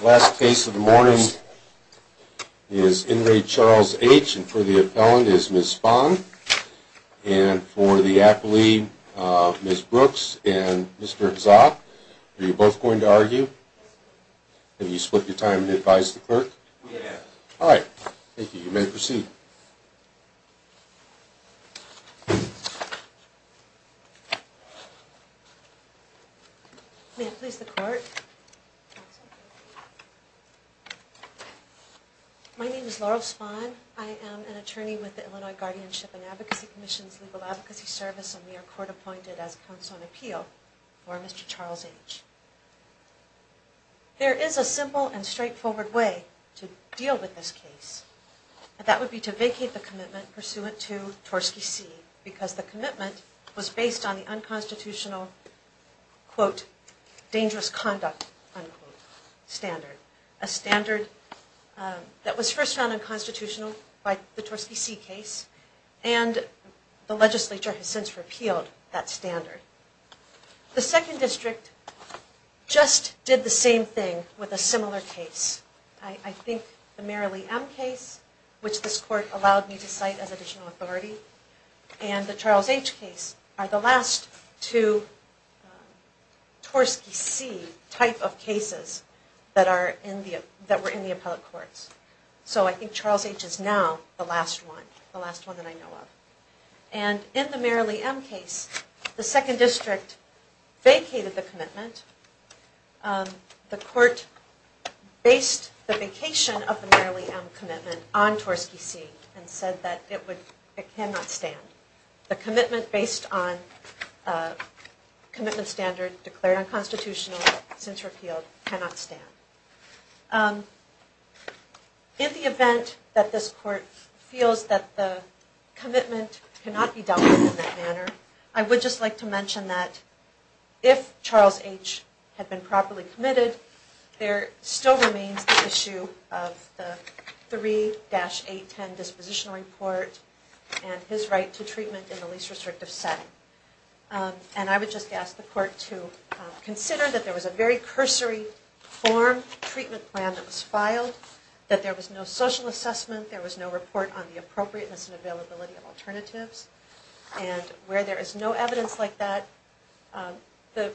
The last case of the morning is in re Charles H and for the appellant is Ms. Spahn and for the appellee Ms. Brooks and Mr. Hazzock, are you both going to argue? Have you split your time and advised the clerk? Yes. All right. Thank you. You may proceed. May I please the court? My name is Laurel Spahn. I am an attorney with the Illinois Guardianship and Advocacy Commission's Legal Advocacy Service and we are court appointed as counsel on appeal for Mr. Charles H. There is a simple and straightforward way to deal with this case. That would be to vacate the commitment pursuant to Torski C because the commitment was based on the unconstitutional, quote, dangerous conduct, unquote, standard. A standard that was first found unconstitutional by the Torski C case and the legislature has since repealed that standard. The second district just did the same thing with a similar case. I think the Merrilee M case, which this court allowed me to cite as additional authority, and the Charles H case are the last two Torski C type of cases that were in the appellate courts. So I think Charles H is now the last one, the last one that I know of. And in the Merrilee M case, the second district vacated the commitment. The court based the vacation of the Merrilee M commitment on Torski C and said that it would, it cannot stand. The commitment based on commitment standard declared unconstitutional since repealed cannot stand. In the event that this court feels that the commitment cannot be dealt with in that manner, I would just like to mention that if Charles H had been properly committed, there still remains the issue of the 3-810 dispositional report and his right to treatment in the least restrictive setting. And I would just ask the court to consider that there was a very cursory form treatment plan that was filed, that there was no social assessment, there was no report on the appropriateness and availability of alternatives. And where there is no evidence like that, the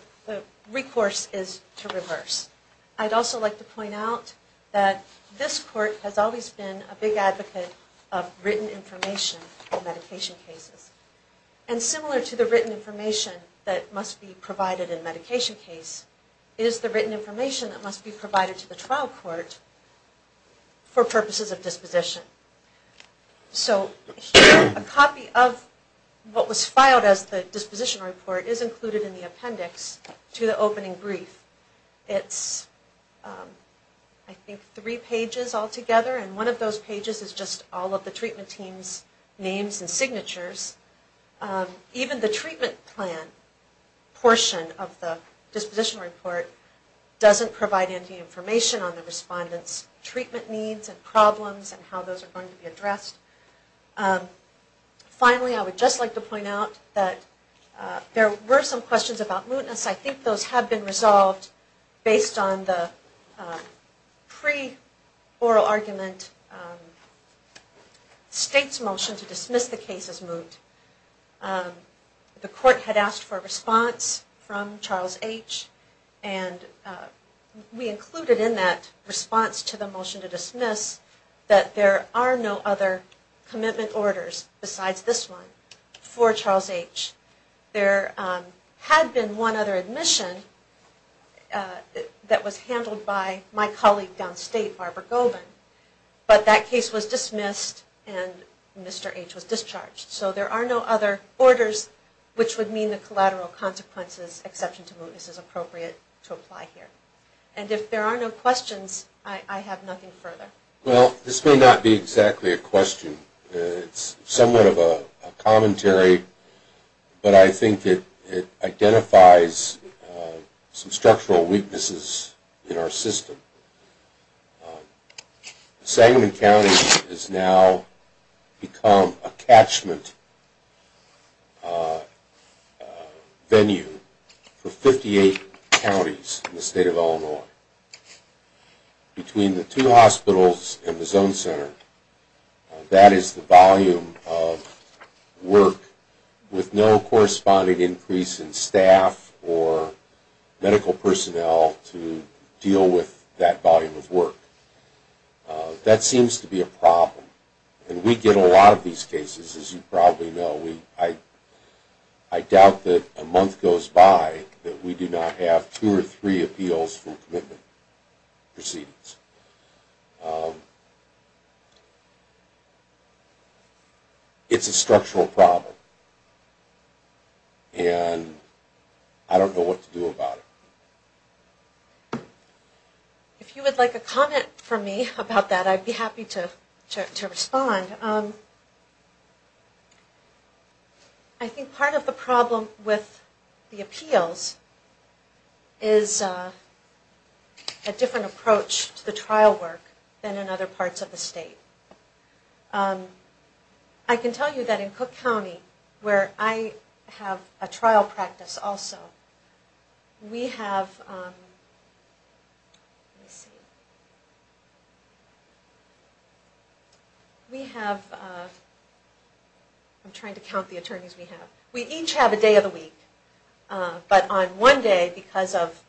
recourse is to reverse. I'd also like to point out that this court has always been a big advocate of written information on medication cases. And similar to the written information that must be provided in a medication case, it is the written information that must be provided to the trial court for purposes of disposition. So a copy of what was filed as the disposition report is included in the appendix to the opening brief. It's, I think, three pages all together. And one of those pages is just all of the treatment team's names and signatures. Even the treatment plan portion of the disposition report doesn't provide any information on the respondent's treatment needs and problems and how those are going to be addressed. Finally, I would just like to point out that there were some questions about mootness. I think those have been resolved based on the pre-oral argument state's motion to dismiss the case as moot. The court had asked for a response from Charles H. And we included in that response to the motion to dismiss that there are no other commitment orders besides this one for Charles H. There had been one other admission that was handled by my colleague downstate, Barbara Gobin. But that case was dismissed and Mr. H. was discharged. So there are no other orders which would mean the collateral consequences exception to mootness is appropriate to apply here. And if there are no questions, I have nothing further. Well, this may not be exactly a question. It's somewhat of a commentary, but I think it identifies some structural weaknesses in our system. Sangamon County has now become a catchment venue for 58 counties in the state of Illinois. Between the two hospitals and the zone center, that is the volume of work with no corresponding increase in staff or medical personnel to deal with that volume of work. That seems to be a problem. And we get a lot of these cases, as you probably know. I doubt that a month goes by that we do not have two or three appeals from commitment proceedings. It's a structural problem. And I don't know what to do about it. If you would like a comment from me about that, I'd be happy to respond. I think part of the problem with the appeals is a different approach to the trial work than in other parts of the state. I can tell you that in Cook County, where I have a trial practice also, we have... I'm trying to count the attorneys we have. We each have a day of the week, but on one day, because of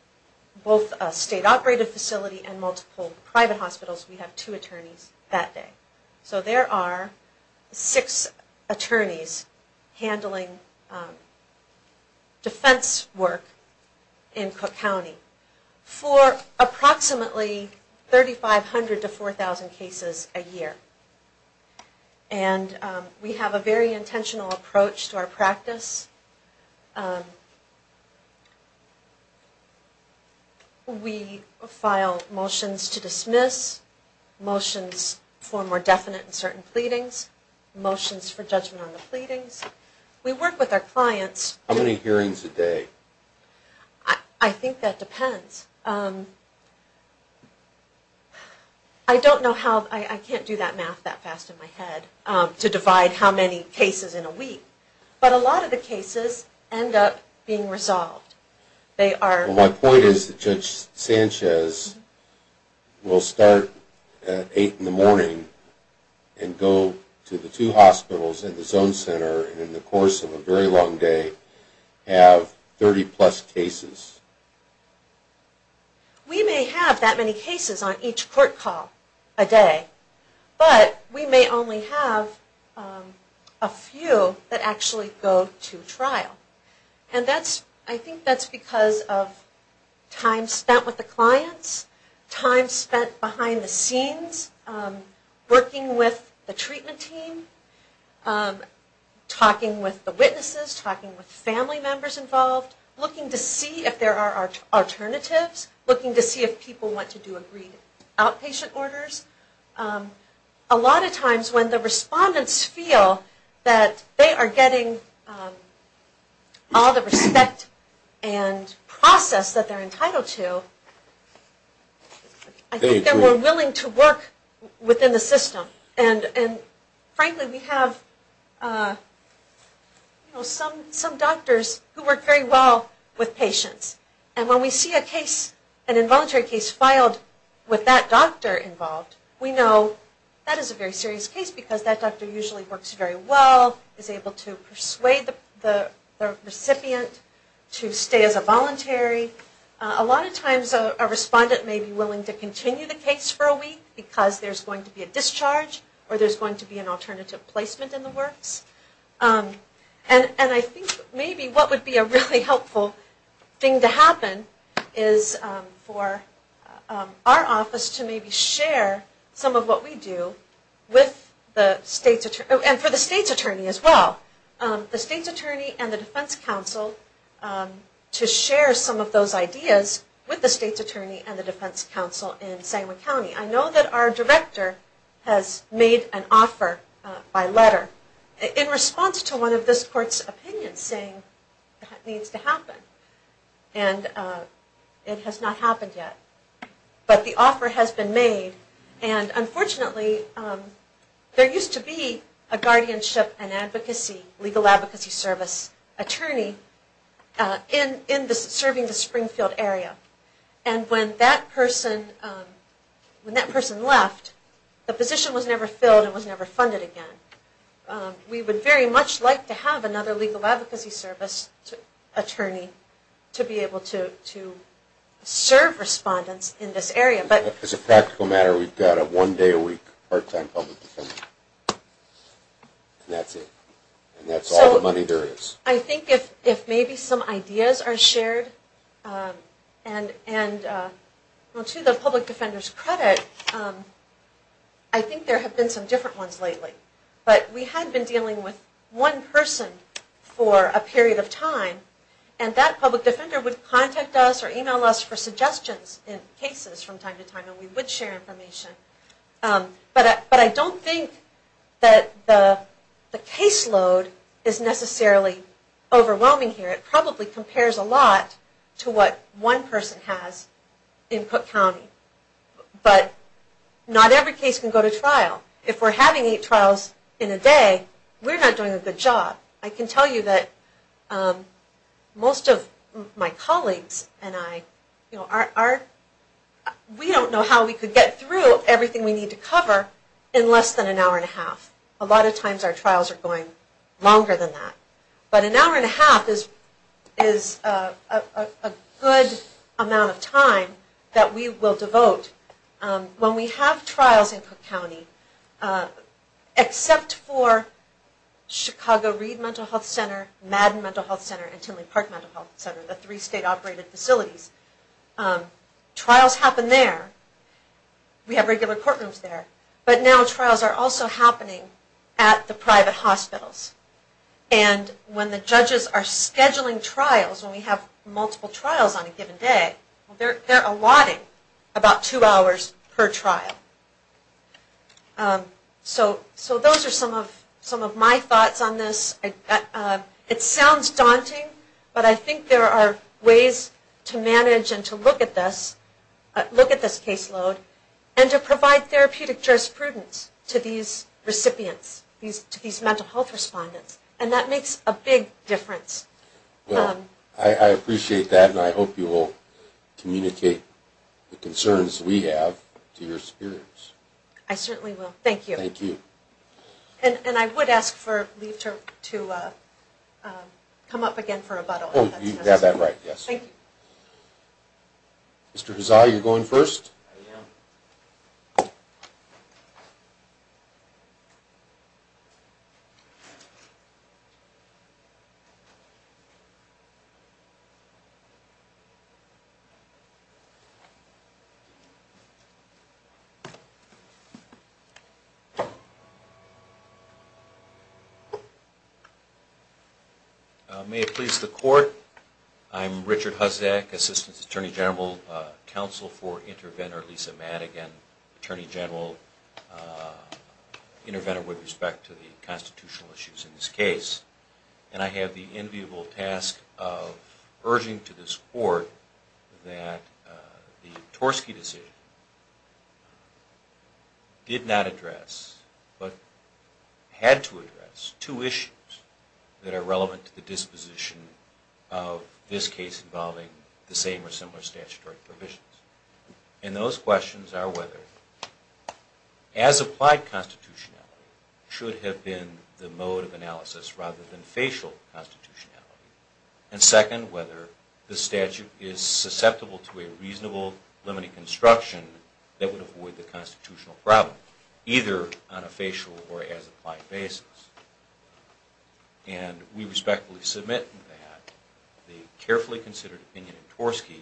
both a state-operated facility and multiple private hospitals, we have two attorneys that day. So there are six attorneys handling defense work in Cook County for approximately 3,500 to 4,000 cases a year. And we have a very intentional approach to our practice. We file motions to dismiss, motions for more definite and certain pleadings, motions for judgment on the pleadings. We work with our clients... How many hearings a day? I think that depends. I don't know how... I can't do that math that fast in my head to divide how many cases in a week. But a lot of the cases end up being resolved. They are... My point is that Judge Sanchez will start at 8 in the morning and go to the two hospitals and the Zone Center, and in the course of a very long day, have 30-plus cases. We may have that many cases on each court call a day, but we may only have a few that actually go to trial. And that's... I think that's because of time spent with the clients, time spent behind the scenes working with the treatment team, talking with the witnesses, talking with family members involved, looking to see if there are alternatives, looking to see if people want to do agreed outpatient orders. A lot of times when the respondents feel that they are getting all the respect and process that they're entitled to, I think that we're willing to work within the system. And frankly, we have some doctors who work very well with patients. And when we see a case, an involuntary case filed with that doctor involved, we know that is a very serious case because that doctor usually works very well, is able to persuade the recipient to stay as a voluntary. A lot of times a respondent may be willing to continue the case for a week because there's going to be a discharge or there's going to be an alternative placement in the works. And I think maybe what would be a really helpful thing to happen is for our office to maybe share some of what we do with the state's attorney, and for the state's attorney as well. The state's attorney and the defense counsel to share some of those ideas with the state's attorney and the defense counsel in San Juan County. I know that our director has made an offer by letter in response to one of this court's opinions saying that needs to happen. And it has not happened yet. But the offer has been made. And unfortunately, there used to be a guardianship and advocacy, legal advocacy service attorney serving the Springfield area. And when that person left, the position was never filled and was never funded again. We would very much like to have another legal advocacy service attorney to be able to serve respondents in this area. As a practical matter, we've got a one-day-a-week part-time public defender. And that's it. And that's all the money there is. I think if maybe some ideas are shared, and to the public defender's credit, I think there have been some different ones lately. But we had been dealing with one person for a period of time, and that public defender would contact us or email us for suggestions in cases from time to time. And we would share information. But I don't think that the caseload is necessarily overwhelming here. It probably compares a lot to what one person has in Cook County. But not every case can go to trial. If we're having eight trials in a day, we're not doing a good job. I can tell you that most of my colleagues and I, you know, we don't have a lot of time. We don't know how we could get through everything we need to cover in less than an hour and a half. A lot of times our trials are going longer than that. But an hour and a half is a good amount of time that we will devote. When we have trials in Cook County, except for Chicago Reed Mental Health Center, Madden Mental Health Center, and Tinley Park Mental Health Center, the three state operated facilities, trials happen there. We have regular courtrooms there. But now trials are also happening at the private hospitals. And when the judges are scheduling trials, when we have multiple trials on a given day, they're allotting about two hours per trial. So those are some of my thoughts on this. It sounds daunting, but I think there are ways to manage and to look at this, look at this caseload, and to provide therapeutic jurisprudence to these recipients, to these mental health respondents. And that makes a big difference. Well, I appreciate that, and I hope you will communicate the concerns we have to your superiors. I certainly will. Thank you. And I would ask for Lee to come up again for rebuttal. Oh, you have that right, yes. Mr. Huzzah, you're going first. May it please the court, I'm Richard Huzzah, Assistant Attorney General Counsel for Interventor Lisa Madigan, Attorney General Interventor with respect to the constitutional issues in this case. And I have the enviable task of urging to this court that the Torsky decision did not address, but had to address, two issues that are relevant to the disposition of this case involving the same or similar statutory provisions. And those questions are whether, as applied constitutionally, the statute should have been the mode of analysis rather than facial constitutionality. And second, whether the statute is susceptible to a reasonable limiting construction that would avoid the constitutional problem, either on a facial or as applied basis. And we respectfully submit that the carefully considered opinion of Torsky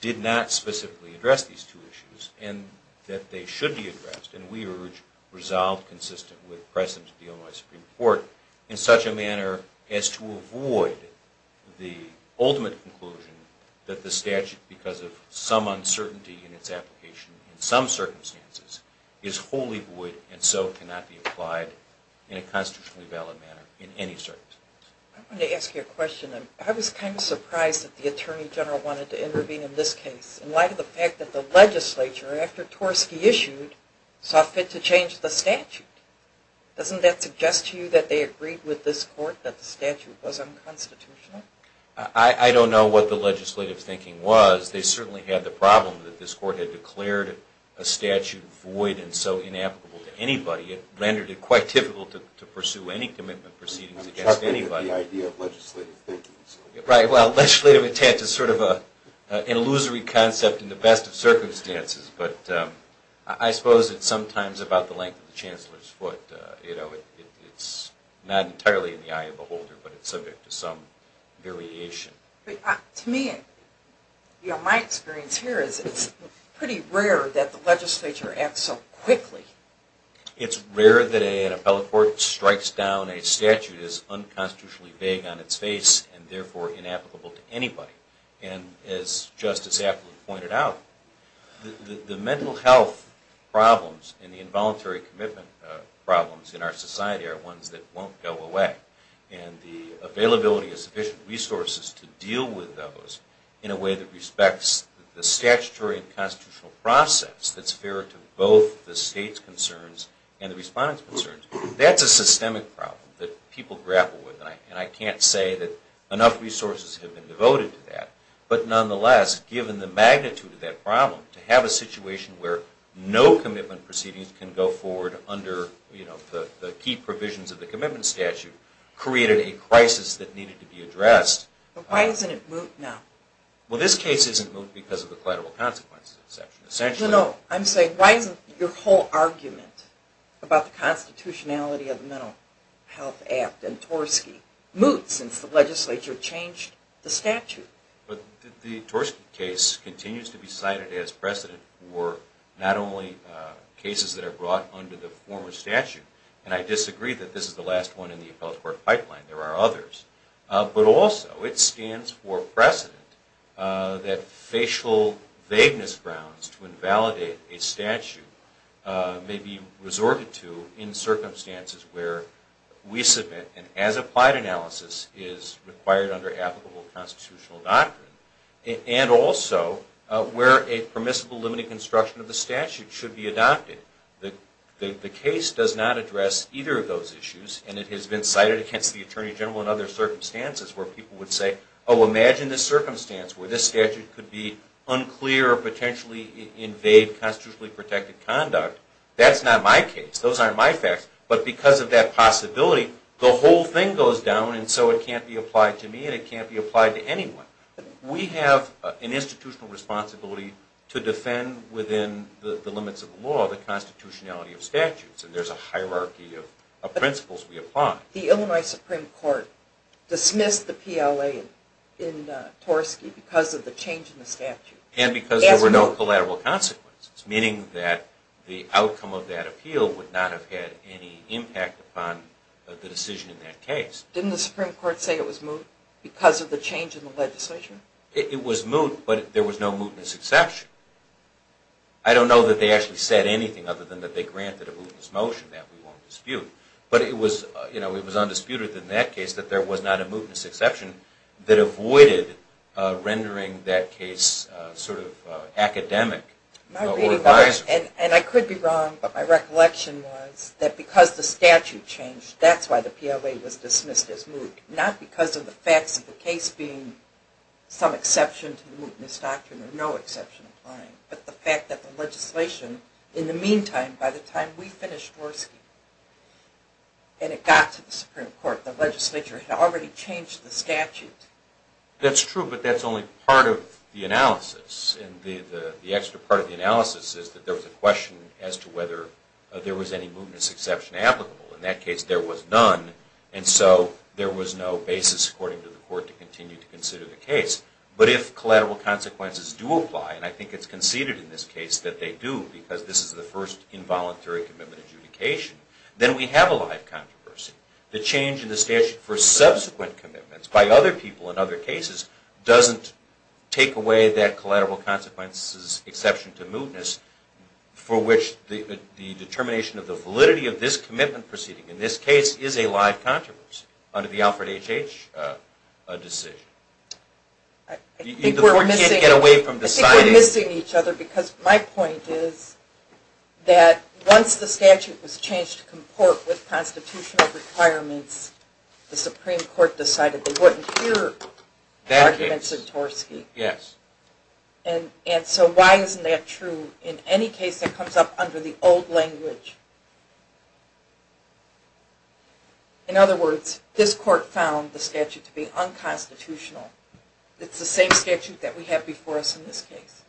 did not specifically address these two issues, and that they should be addressed. And we urge resolve consistent with precedent of the Illinois Supreme Court in such a manner as to avoid the ultimate conclusion that the statute, because of some uncertainty in its application in some circumstances, is wholly void and so cannot be applied in a constitutionally valid manner in any circumstances. I wanted to ask you a question. I was kind of surprised that the Attorney General wanted to intervene in this case, in light of the fact that the legislature, after Torsky issued, saw fit to change the statute. Doesn't that suggest to you that they agreed with this court that the statute was unconstitutional? I don't know what the legislative thinking was. They certainly had the problem that this court had declared a statute void and so inapplicable to anybody. It rendered it quite difficult to pursue any commitment proceedings against anybody. I'm talking about the idea of legislative thinking. Right. Well, legislative intent is sort of an illusory concept in the best of circumstances, but I suppose it's sometimes about the length of the Chancellor's foot. It's not entirely in the eye of the holder, but it's subject to some variation. To me, my experience here is that it's pretty rare that the legislature acts so quickly. It's rare that an appellate court strikes down a statute as unconstitutionally vague on its face and therefore inapplicable to anybody. And as Justice Appleton pointed out, the mental health problems and the involuntary commitment problems in our society are ones that won't go away. And the availability of sufficient resources to deal with those in a way that respects the statutory and constitutional process that's fair to both the state's concerns and the respondents' concerns. That's a systemic problem that people grapple with, and I can't say that enough resources have been devoted to that. But nonetheless, given the magnitude of that problem, to have a situation where no commitment proceedings can go forward under the key provisions of the commitment statute created a crisis that needed to be addressed. But why isn't it moot now? Well, this case isn't moot because of the collateral consequences section. No, no, I'm saying why isn't your whole argument about the constitutionality of the Mental Health Act and Torsky moot since the legislature changed the statute? The Torsky case continues to be cited as precedent for not only cases that are brought under the former statute, and I disagree that this is the last one in the appellate court pipeline, there are others, but also it stands for precedent that facial vagueness grounds to invalidate a statute may be resorted to in circumstances where we submit, and as applied analysis, is required under applicable constitutional doctrine, and also where a permissible limited construction of the statute should be adopted. The case does not address either of those issues, and it has been cited against the Attorney General in other circumstances where people would say, oh, imagine this circumstance where this statute could be unclear or potentially invade constitutionally protected conduct, that's not my case, those aren't my facts, but because of that possibility the whole thing goes down and so it can't be applied to me and it can't be applied to anyone. We have an institutional responsibility to defend within the limits of the law the constitutionality of statutes, and there's a hierarchy of principles we apply. The Illinois Supreme Court dismissed the PLA in Torski because of the change in the statute. And because there were no collateral consequences, meaning that the outcome of that appeal would not have had any impact upon the decision in that case. Didn't the Supreme Court say it was moot because of the change in the legislation? It was moot, but there was no mootness exception. I don't know that they actually said anything other than that they granted a mootness motion that we won't dispute, but it was, you know, it was undisputed in that case that there was not a mootness exception that avoided rendering that case sort of academic or biased. And I could be wrong, but my recollection was that because the statute changed, that's why the PLA was dismissed as moot. Not because of the facts of the case being some exception to the mootness doctrine or no exception applying, but the fact that the legislation, in the meantime, by the time we finished Torski, and it got to the Supreme Court, the legislature had already changed the statute. That's true, but that's only part of the analysis, and the extra part of the analysis is that there was a question as to whether there was any mootness exception applicable. In that case, there was none, and so there was no basis, according to the court, to continue to consider the case. But if collateral consequences do apply, and I think it's conceded in this case that they do because this is the first involuntary commitment adjudication, then we have a live controversy. The change in the statute for subsequent commitments by other people in other cases doesn't take away that collateral consequences exception to mootness for which the determination of the validity of this commitment proceeding in this case is a live controversy under the Alfred H. H. decision. I think we're missing each other because my point is that once the statute was changed to comport with constitutional requirements, the Supreme Court decided they wouldn't hear arguments in Torski. Yes. And so why isn't that true in any case that comes up under the old language? In other words, this court found the statute to be unconstitutional. It's the same statute that we have before us in this case.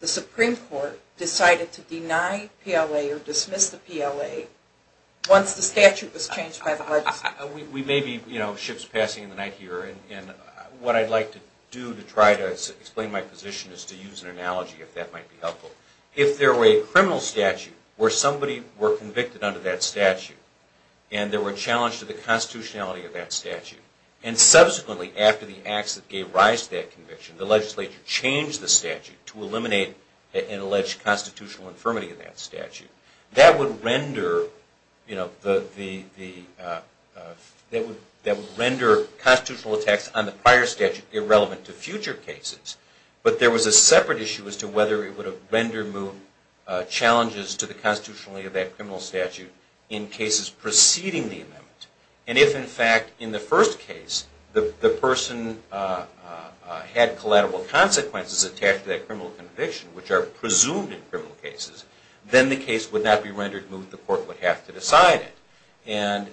The Supreme Court decided to deny PLA or dismiss the PLA once the statute was changed by the legislature. We may be, you know, ships passing in the night here, and what I'd like to do to try to explain my position is to use an analogy if that might be helpful. If there were a criminal statute where somebody were convicted under that statute and they were challenged to the constitutionality of that statute, and subsequently after the acts that gave rise to that conviction, the legislature changed the statute to eliminate an alleged constitutional infirmity in that statute, that would render constitutional attacks on the prior statute irrelevant to future cases. But there was a separate issue as to whether it would have rendered new challenges to the constitutionality of that criminal statute in cases preceding the amendment. And if, in fact, in the first case the person had collateral consequences attached to that criminal conviction, which are the court would have to decide it. And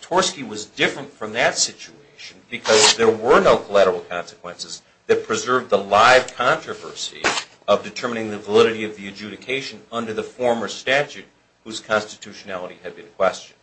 Torsky was different from that situation because there were no collateral consequences that preserved the live controversy of determining the validity of the adjudication under the former statute whose constitutionality had been questioned.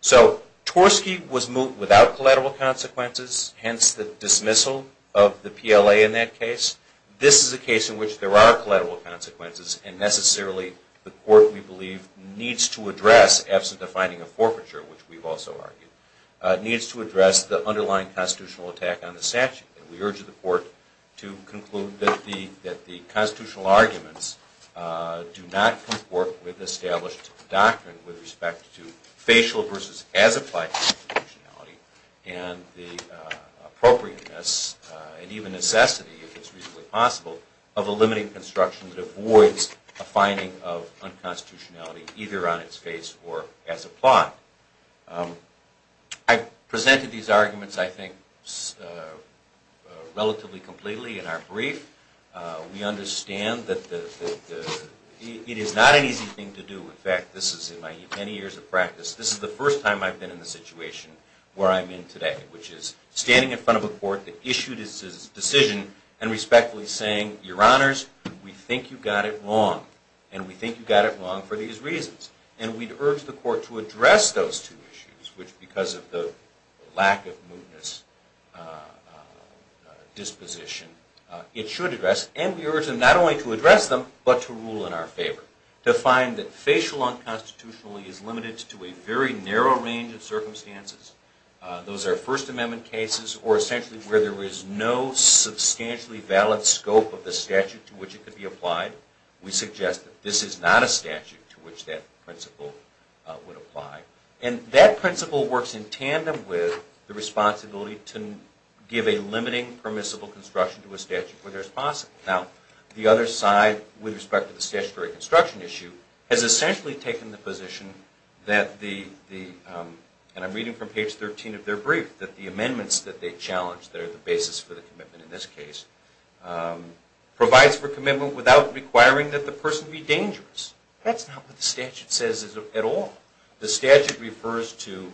So Torsky was moved without collateral consequences, hence the dismissal of the PLA in that case. This is a case in which there are collateral consequences and necessarily the court, we believe, needs to address, absent the finding of forfeiture, which we've also argued, needs to address the underlying constitutional attack on the statute. We urge the court to conclude that the constitutional arguments do not comport with established doctrine with respect to of a limiting construction that avoids a finding of unconstitutionality either on its face or as a plot. I've presented these arguments, I think, relatively completely in our brief. We understand that it is not an easy thing to do. In fact, this is in my many years of practice. This is the first time I've been in a situation where I'm in today, which is standing in front of a court that issued its decision and respectfully saying, your honors, we think you got it wrong. And we think you got it wrong for these reasons. And we'd urge the court to address those two issues, which because of the lack of mootness disposition, it should address. And we urge them not only to address them, but to rule in our favor. To find that facial unconstitutionality is limited to a very narrow range of circumstances. Those are First Amendment cases or essentially where there is no substantially valid scope of the statute to which it could be applied. We suggest that this is not a statute to which that principle would apply. And that principle works in tandem with the responsibility to give a limiting permissible construction to a statute where there's possible. Now, the other side with respect to the statutory construction issue has essentially taken the position that the, and I'm reading from page 13 of their brief, that the amendments that they challenge, they're the basis for the commitment in this case, provides for commitment without requiring that the person be dangerous. That's not what the statute says at all. The statute refers to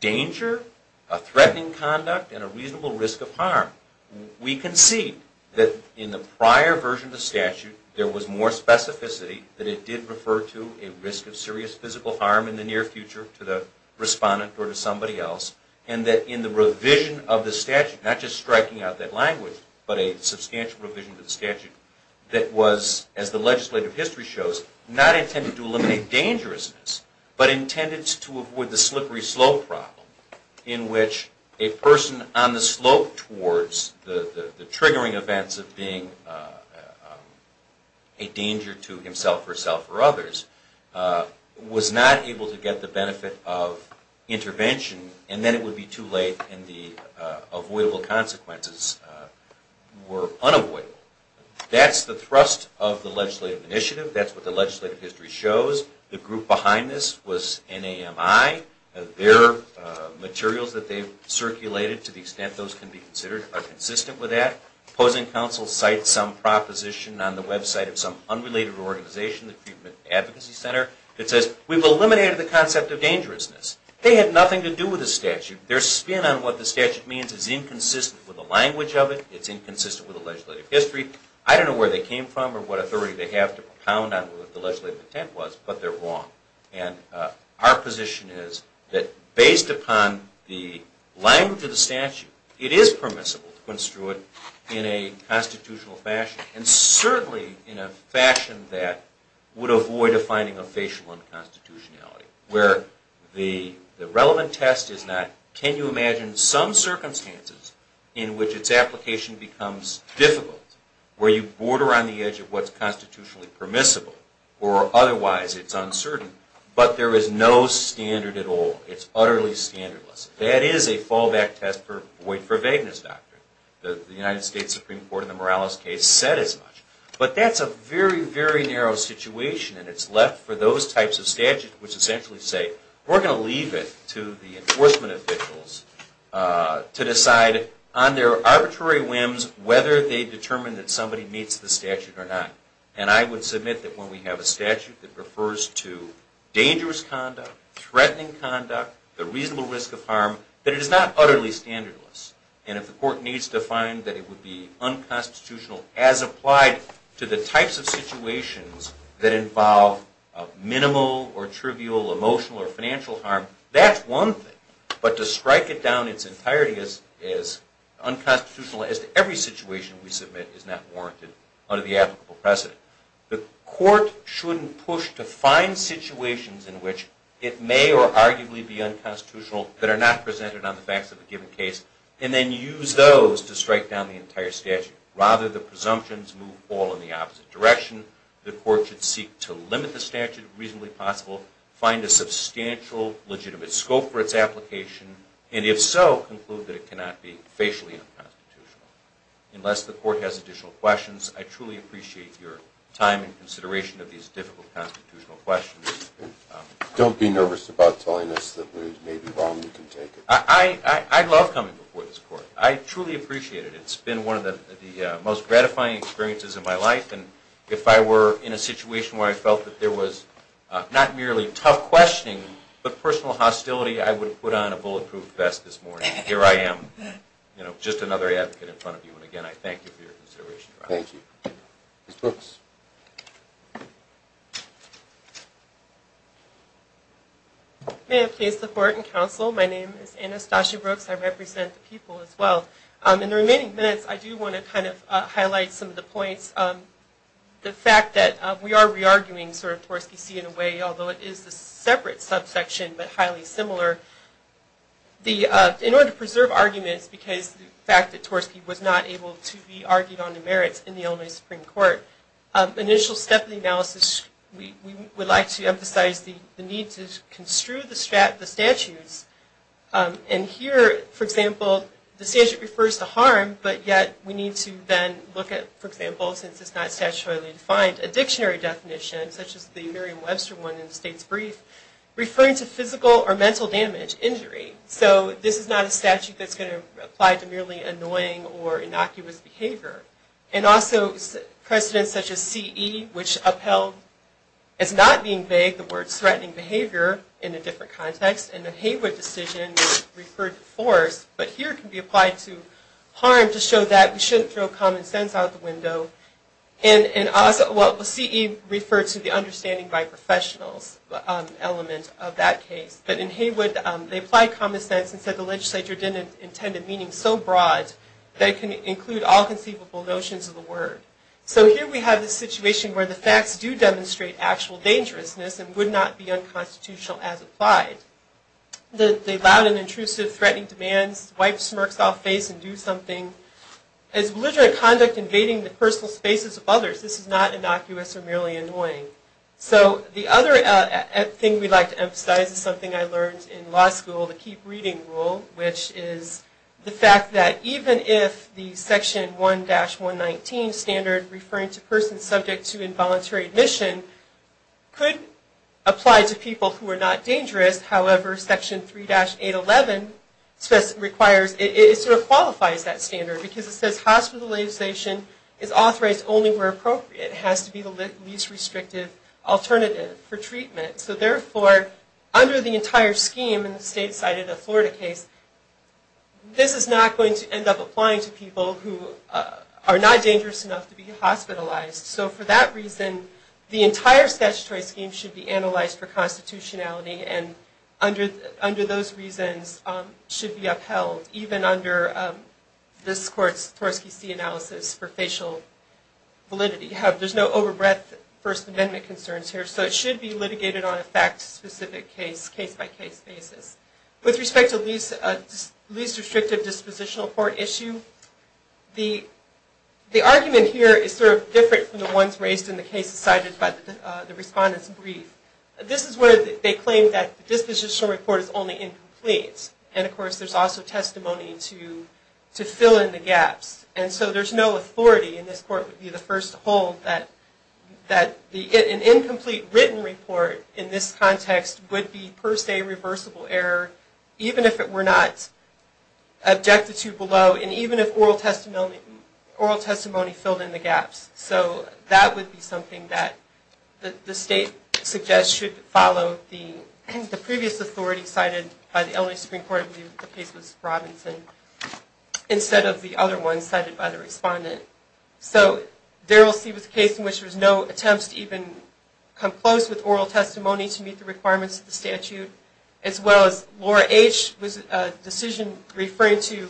danger, a threatening conduct, and a reasonable risk of harm. We concede that in the prior version of the statute, there was more specificity, that it did refer to a risk of serious physical harm in the near future to the respondent or to somebody else, and that in the revision of the statute, not just striking out that language, but a substantial revision of the statute that was, as the legislative history shows, not intended to eliminate dangerousness, but intended to avoid the slippery slope problem in which a person on the slope towards the triggering events of being a danger to himself, herself, or others, was not able to get the benefit of intervention, and then it would be too late, and the avoidable consequences were unavoidable. That's the thrust of the legislative initiative. That's what the legislative history shows. The group behind this was NAMI. Their materials that they circulated, to the extent those can be considered, are consistent with that. Opposing counsel cites some proposition on the website of some unrelated organization, the Treatment Advocacy Center, that says, we've eliminated the concept of dangerousness. They had nothing to do with the statute. Their spin on what the statute means is inconsistent with the language of it. It's inconsistent with the legislative history. I don't know where they came from or what authority they have to propound on what the legislative intent was, but they're wrong. And our position is that, based upon the language of the statute, it is permissible to construe it in a constitutional fashion, and certainly in a fashion that would avoid a finding of facial unconstitutionality, where the relevant test is not, can you imagine some circumstances in which its application becomes difficult, where you border on the edge of what's constitutionally permissible, or otherwise it's uncertain, but there is no standard at all. It's utterly standardless. That is a fallback test for void for vagueness doctrine. The United States Supreme Court in the Morales case said as much. But that's a very, very narrow situation, and it's left for those types of statutes, which essentially say, we're going to leave it to the enforcement officials to decide, on their arbitrary whims, whether they determine that somebody meets the statute or not. And I would submit that when we have a statute that refers to dangerous conduct, threatening conduct, the reasonable risk of harm, that it is not utterly standardless. And if the court needs to find that it would be unconstitutional as applied to the types of situations that involve minimal or trivial emotional or financial harm, that's one thing. But to strike it down its entirety as unconstitutional as to every situation we submit is not warranted under the applicable precedent. The court shouldn't push to find situations in which it may or arguably be unconstitutional that are not presented on the facts of a given case, and then use those to strike down the entire statute. Rather, the presumptions move all in the opposite direction. The court should seek to limit the statute, reasonably possible, find a substantial legitimate scope for its application, and if so, conclude that it cannot be facially unconstitutional. Unless the court has additional questions, I truly appreciate your time and consideration of these difficult constitutional questions. Don't be nervous about telling us that we may be wrong. You can take it. I love coming before this court. I truly appreciate it. It's been one of the most gratifying experiences of my life. And if I were in a situation where I felt that there was not merely tough questioning, but personal hostility, I would have put on a bulletproof vest this morning. And here I am, you know, just another advocate in front of you. And again, I thank you for your consideration. Thank you. Ms. Brooks. May I please the court and counsel, my name is Anastasia Brooks. I represent the people as well. In the remaining minutes, I do want to kind of highlight some of the points. The fact that we are re-arguing sort of Torsky C in a way, although it is a separate subsection, but highly similar. In order to preserve arguments, because the fact that Torsky was not able to be argued on the merits in the Illinois Supreme Court, initial step of the analysis, we would like to emphasize the need to construe the statutes. And here, for example, the statute refers to harm, but yet we need to then look at, for example, since it's not statutorily defined, a dictionary definition, such as the Merriam-Webster one in the state's brief, referring to physical or mental damage, injury. So this is not a statute that's going to apply to merely annoying or innocuous behavior. And also precedents such as CE, which upheld as not being vague the word threatening behavior in a different context, and the Hayward decision referred to force, but here it can be applied to harm to show that we shouldn't throw common sense out the window. And CE referred to the understanding by professionals element of that case. But in Hayward, they applied common sense and said the legislature didn't intend a meaning so broad that it can include all conceivable notions of the word. So here we have this situation where the facts do demonstrate actual dangerousness and would not be unconstitutional as applied. The loud and intrusive threatening demands, wipe smirks off face and do something, as belligerent conduct invading the personal spaces of others. This is not innocuous or merely annoying. So the other thing we'd like to emphasize is something I learned in law school, the keep reading rule, which is the fact that even if the section 1-119 standard referring to persons subject to involuntary admission could apply to people who are not dangerous. However, section 3-811 requires, it sort of qualifies that standard because it says hospitalization is authorized only where appropriate. It has to be the least restrictive alternative for treatment. So therefore, under the entire scheme in the state cited Florida case, this is not going to end up applying to people who are not dangerous enough to be hospitalized. So for that reason, the entire statutory scheme should be analyzed for under those reasons, should be upheld, even under this court's Tversky C analysis for facial validity. There's no over-breath First Amendment concerns here, so it should be litigated on a fact-specific case, case-by-case basis. With respect to least restrictive dispositional court issue, the argument here is sort of different from the ones raised in the cases cited by the respondents brief. This is where they claim that the dispositional report is only incomplete. And of course, there's also testimony to fill in the gaps. And so there's no authority in this court to be the first to hold that an incomplete written report in this context would be per se reversible error, even if it were not objected to below, and even if oral testimony filled in the gaps. So that would be something that the state suggests should follow the previous authority cited by the L.A. Supreme Court, the case was Robinson, instead of the other ones cited by the respondent. So Darrell C was a case in which there was no attempts to even come close with oral testimony to meet the requirements of the statute, as well as Laura H was a decision referring to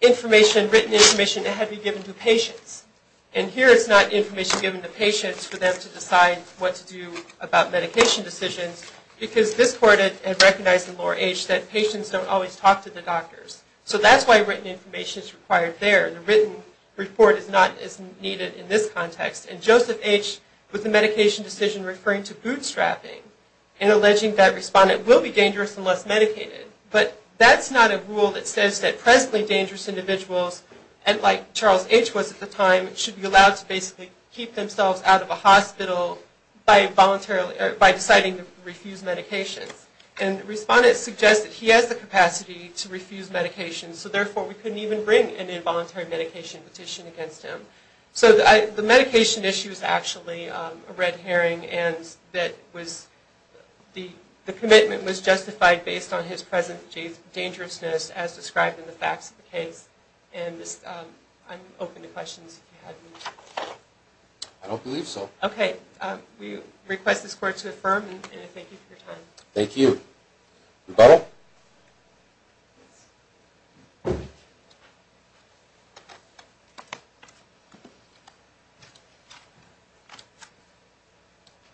information, written information that had been given to patients. And here it's not information given to patients for them to decide what to do about medication decisions, because this court had recognized in Laura H that patients don't always talk to the doctors. So that's why written information is required there. The written report is not as needed in this context. And Joseph H was a medication decision referring to bootstrapping, and alleging that respondent will be dangerous unless medicated. But that's not a rule that says that presently dangerous individuals, like Charles H was at the time, should be allowed to basically keep themselves out of a hospital by deciding to refuse medication. And the respondent suggested he has the capacity to refuse medication, so therefore we couldn't even bring an involuntary medication petition against him. So the medication issue is actually a red herring, and the commitment was justified based on his present dangerousness, as described in the facts of the case. And I'm open to questions if you have any. I don't believe so. Okay, we request this court to affirm, and I thank you for your time. Thank you. Rebuttal? Yes.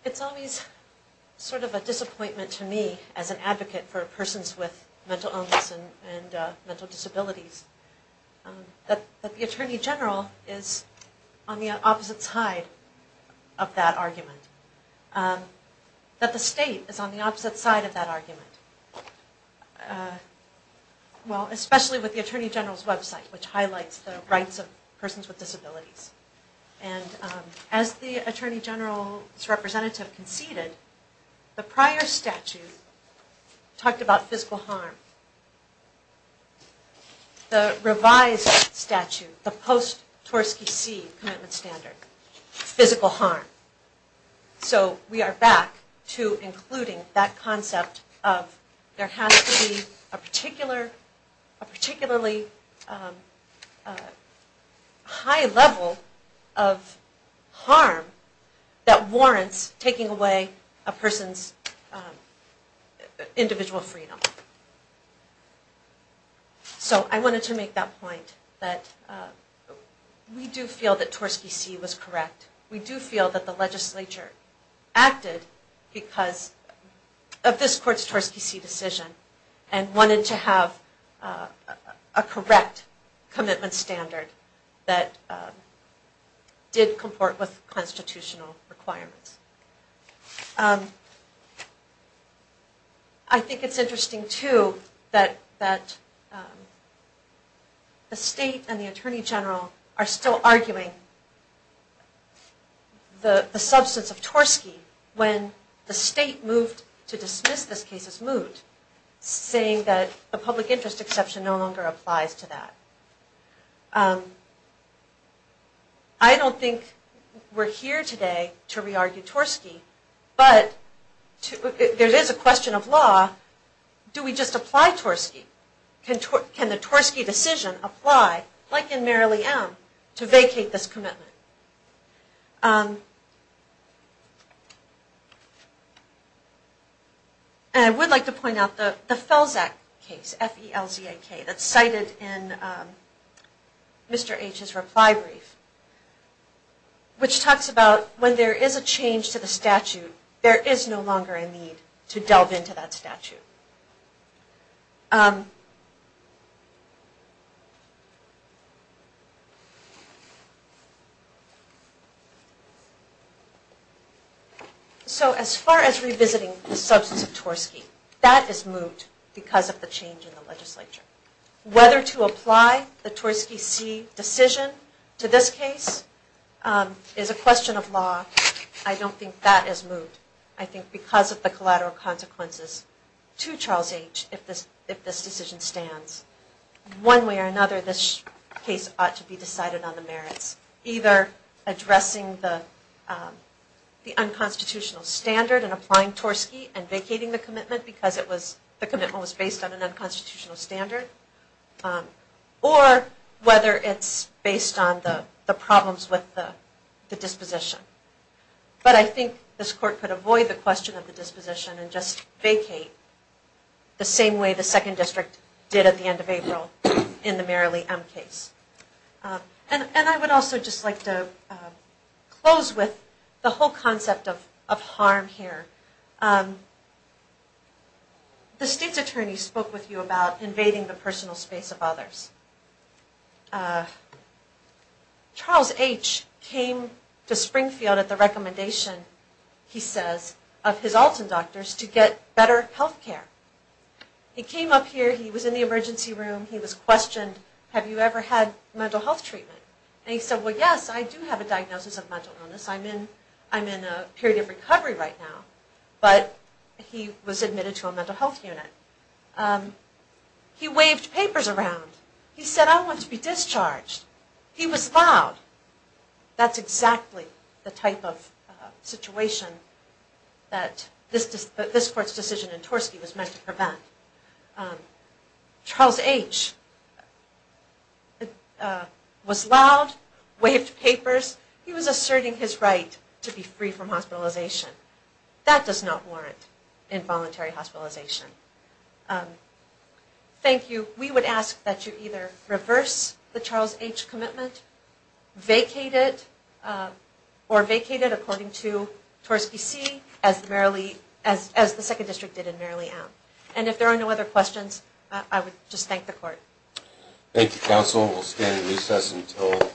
It's always sort of a disappointment to me, as an advocate for persons with mental illness and mental disabilities, that the Attorney General is on the opposite side of that argument. That the state is on the opposite side of that argument. Well, especially with the Attorney General's website, which highlights the rights of persons with disabilities. And as the Attorney General's representative conceded, the prior statute talked about physical harm. The revised statute, the post-Torski-See Commitment Standard, physical harm. So we are back to including that concept of there has to be a particularly high level of harm that warrants taking away a person's individual freedom. So I wanted to make that point, that we do feel that Torski-See was correct. We do feel that the legislature acted because of this court's Torski-See decision, and wanted to have a correct commitment standard that did comport with constitutional requirements. I think it's interesting, too, that the state and the Attorney General are still arguing the substance of Torski when the state moved to dismiss this case's moot, saying that a public interest exception no longer applies to that. I don't think we're here today to re-argue Torski, but there is a question of law. Do we just apply Torski? Can the Torski decision apply, like in Merrilee M., to vacate this commitment? I would like to point out the Felczak case, F-E-L-Z-A-K, that's cited in Mr. H.'s reply brief, which talks about when there is a change to the statute, there is no longer a need to delve into that statute. So as far as revisiting the substance of Torski, that is moot because of the change in the legislature. Whether to apply the Torski-C decision to this case is a question of law. I don't think that is moot. I think because of the collateral consequences to Charles H. if this decision stands. One way or another, this case ought to be decided on the merits, either addressing the unconstitutional standard in applying Torski and vacating the commitment because the commitment was based on an unconstitutional standard, or whether it's based on the problems with the disposition. But I think this court could avoid the question of the disposition and just vacate, the same way the 2nd District did at the end of April in the Merrilee M. case. And I would also just like to close with the whole concept of harm here. The state's attorney spoke with you about invading the personal space of others. Charles H. came to Springfield at the recommendation, he says, of his Alton doctors to get better health care. He came up here, he was in the emergency room, he was questioned, have you ever had mental health treatment? And he said, well yes, I do have a diagnosis of mental illness. I'm in a period of recovery right now. But he was admitted to a mental health unit. He waved papers around. He said, I want to be discharged. He was loud. That's exactly the type of situation that this court's decision in Torski was meant to prevent. Charles H. was loud, waved papers. He was asserting his right to be free from hospitalization. That does not warrant involuntary hospitalization. Thank you. We would ask that you either reverse the Charles H. commitment, vacate it, or vacate it according to Torski's C, as the second district did in Merrilee Alley. And if there are no other questions, I would just thank the court. Thank you, counsel. We'll stand in recess until 12 o'clock.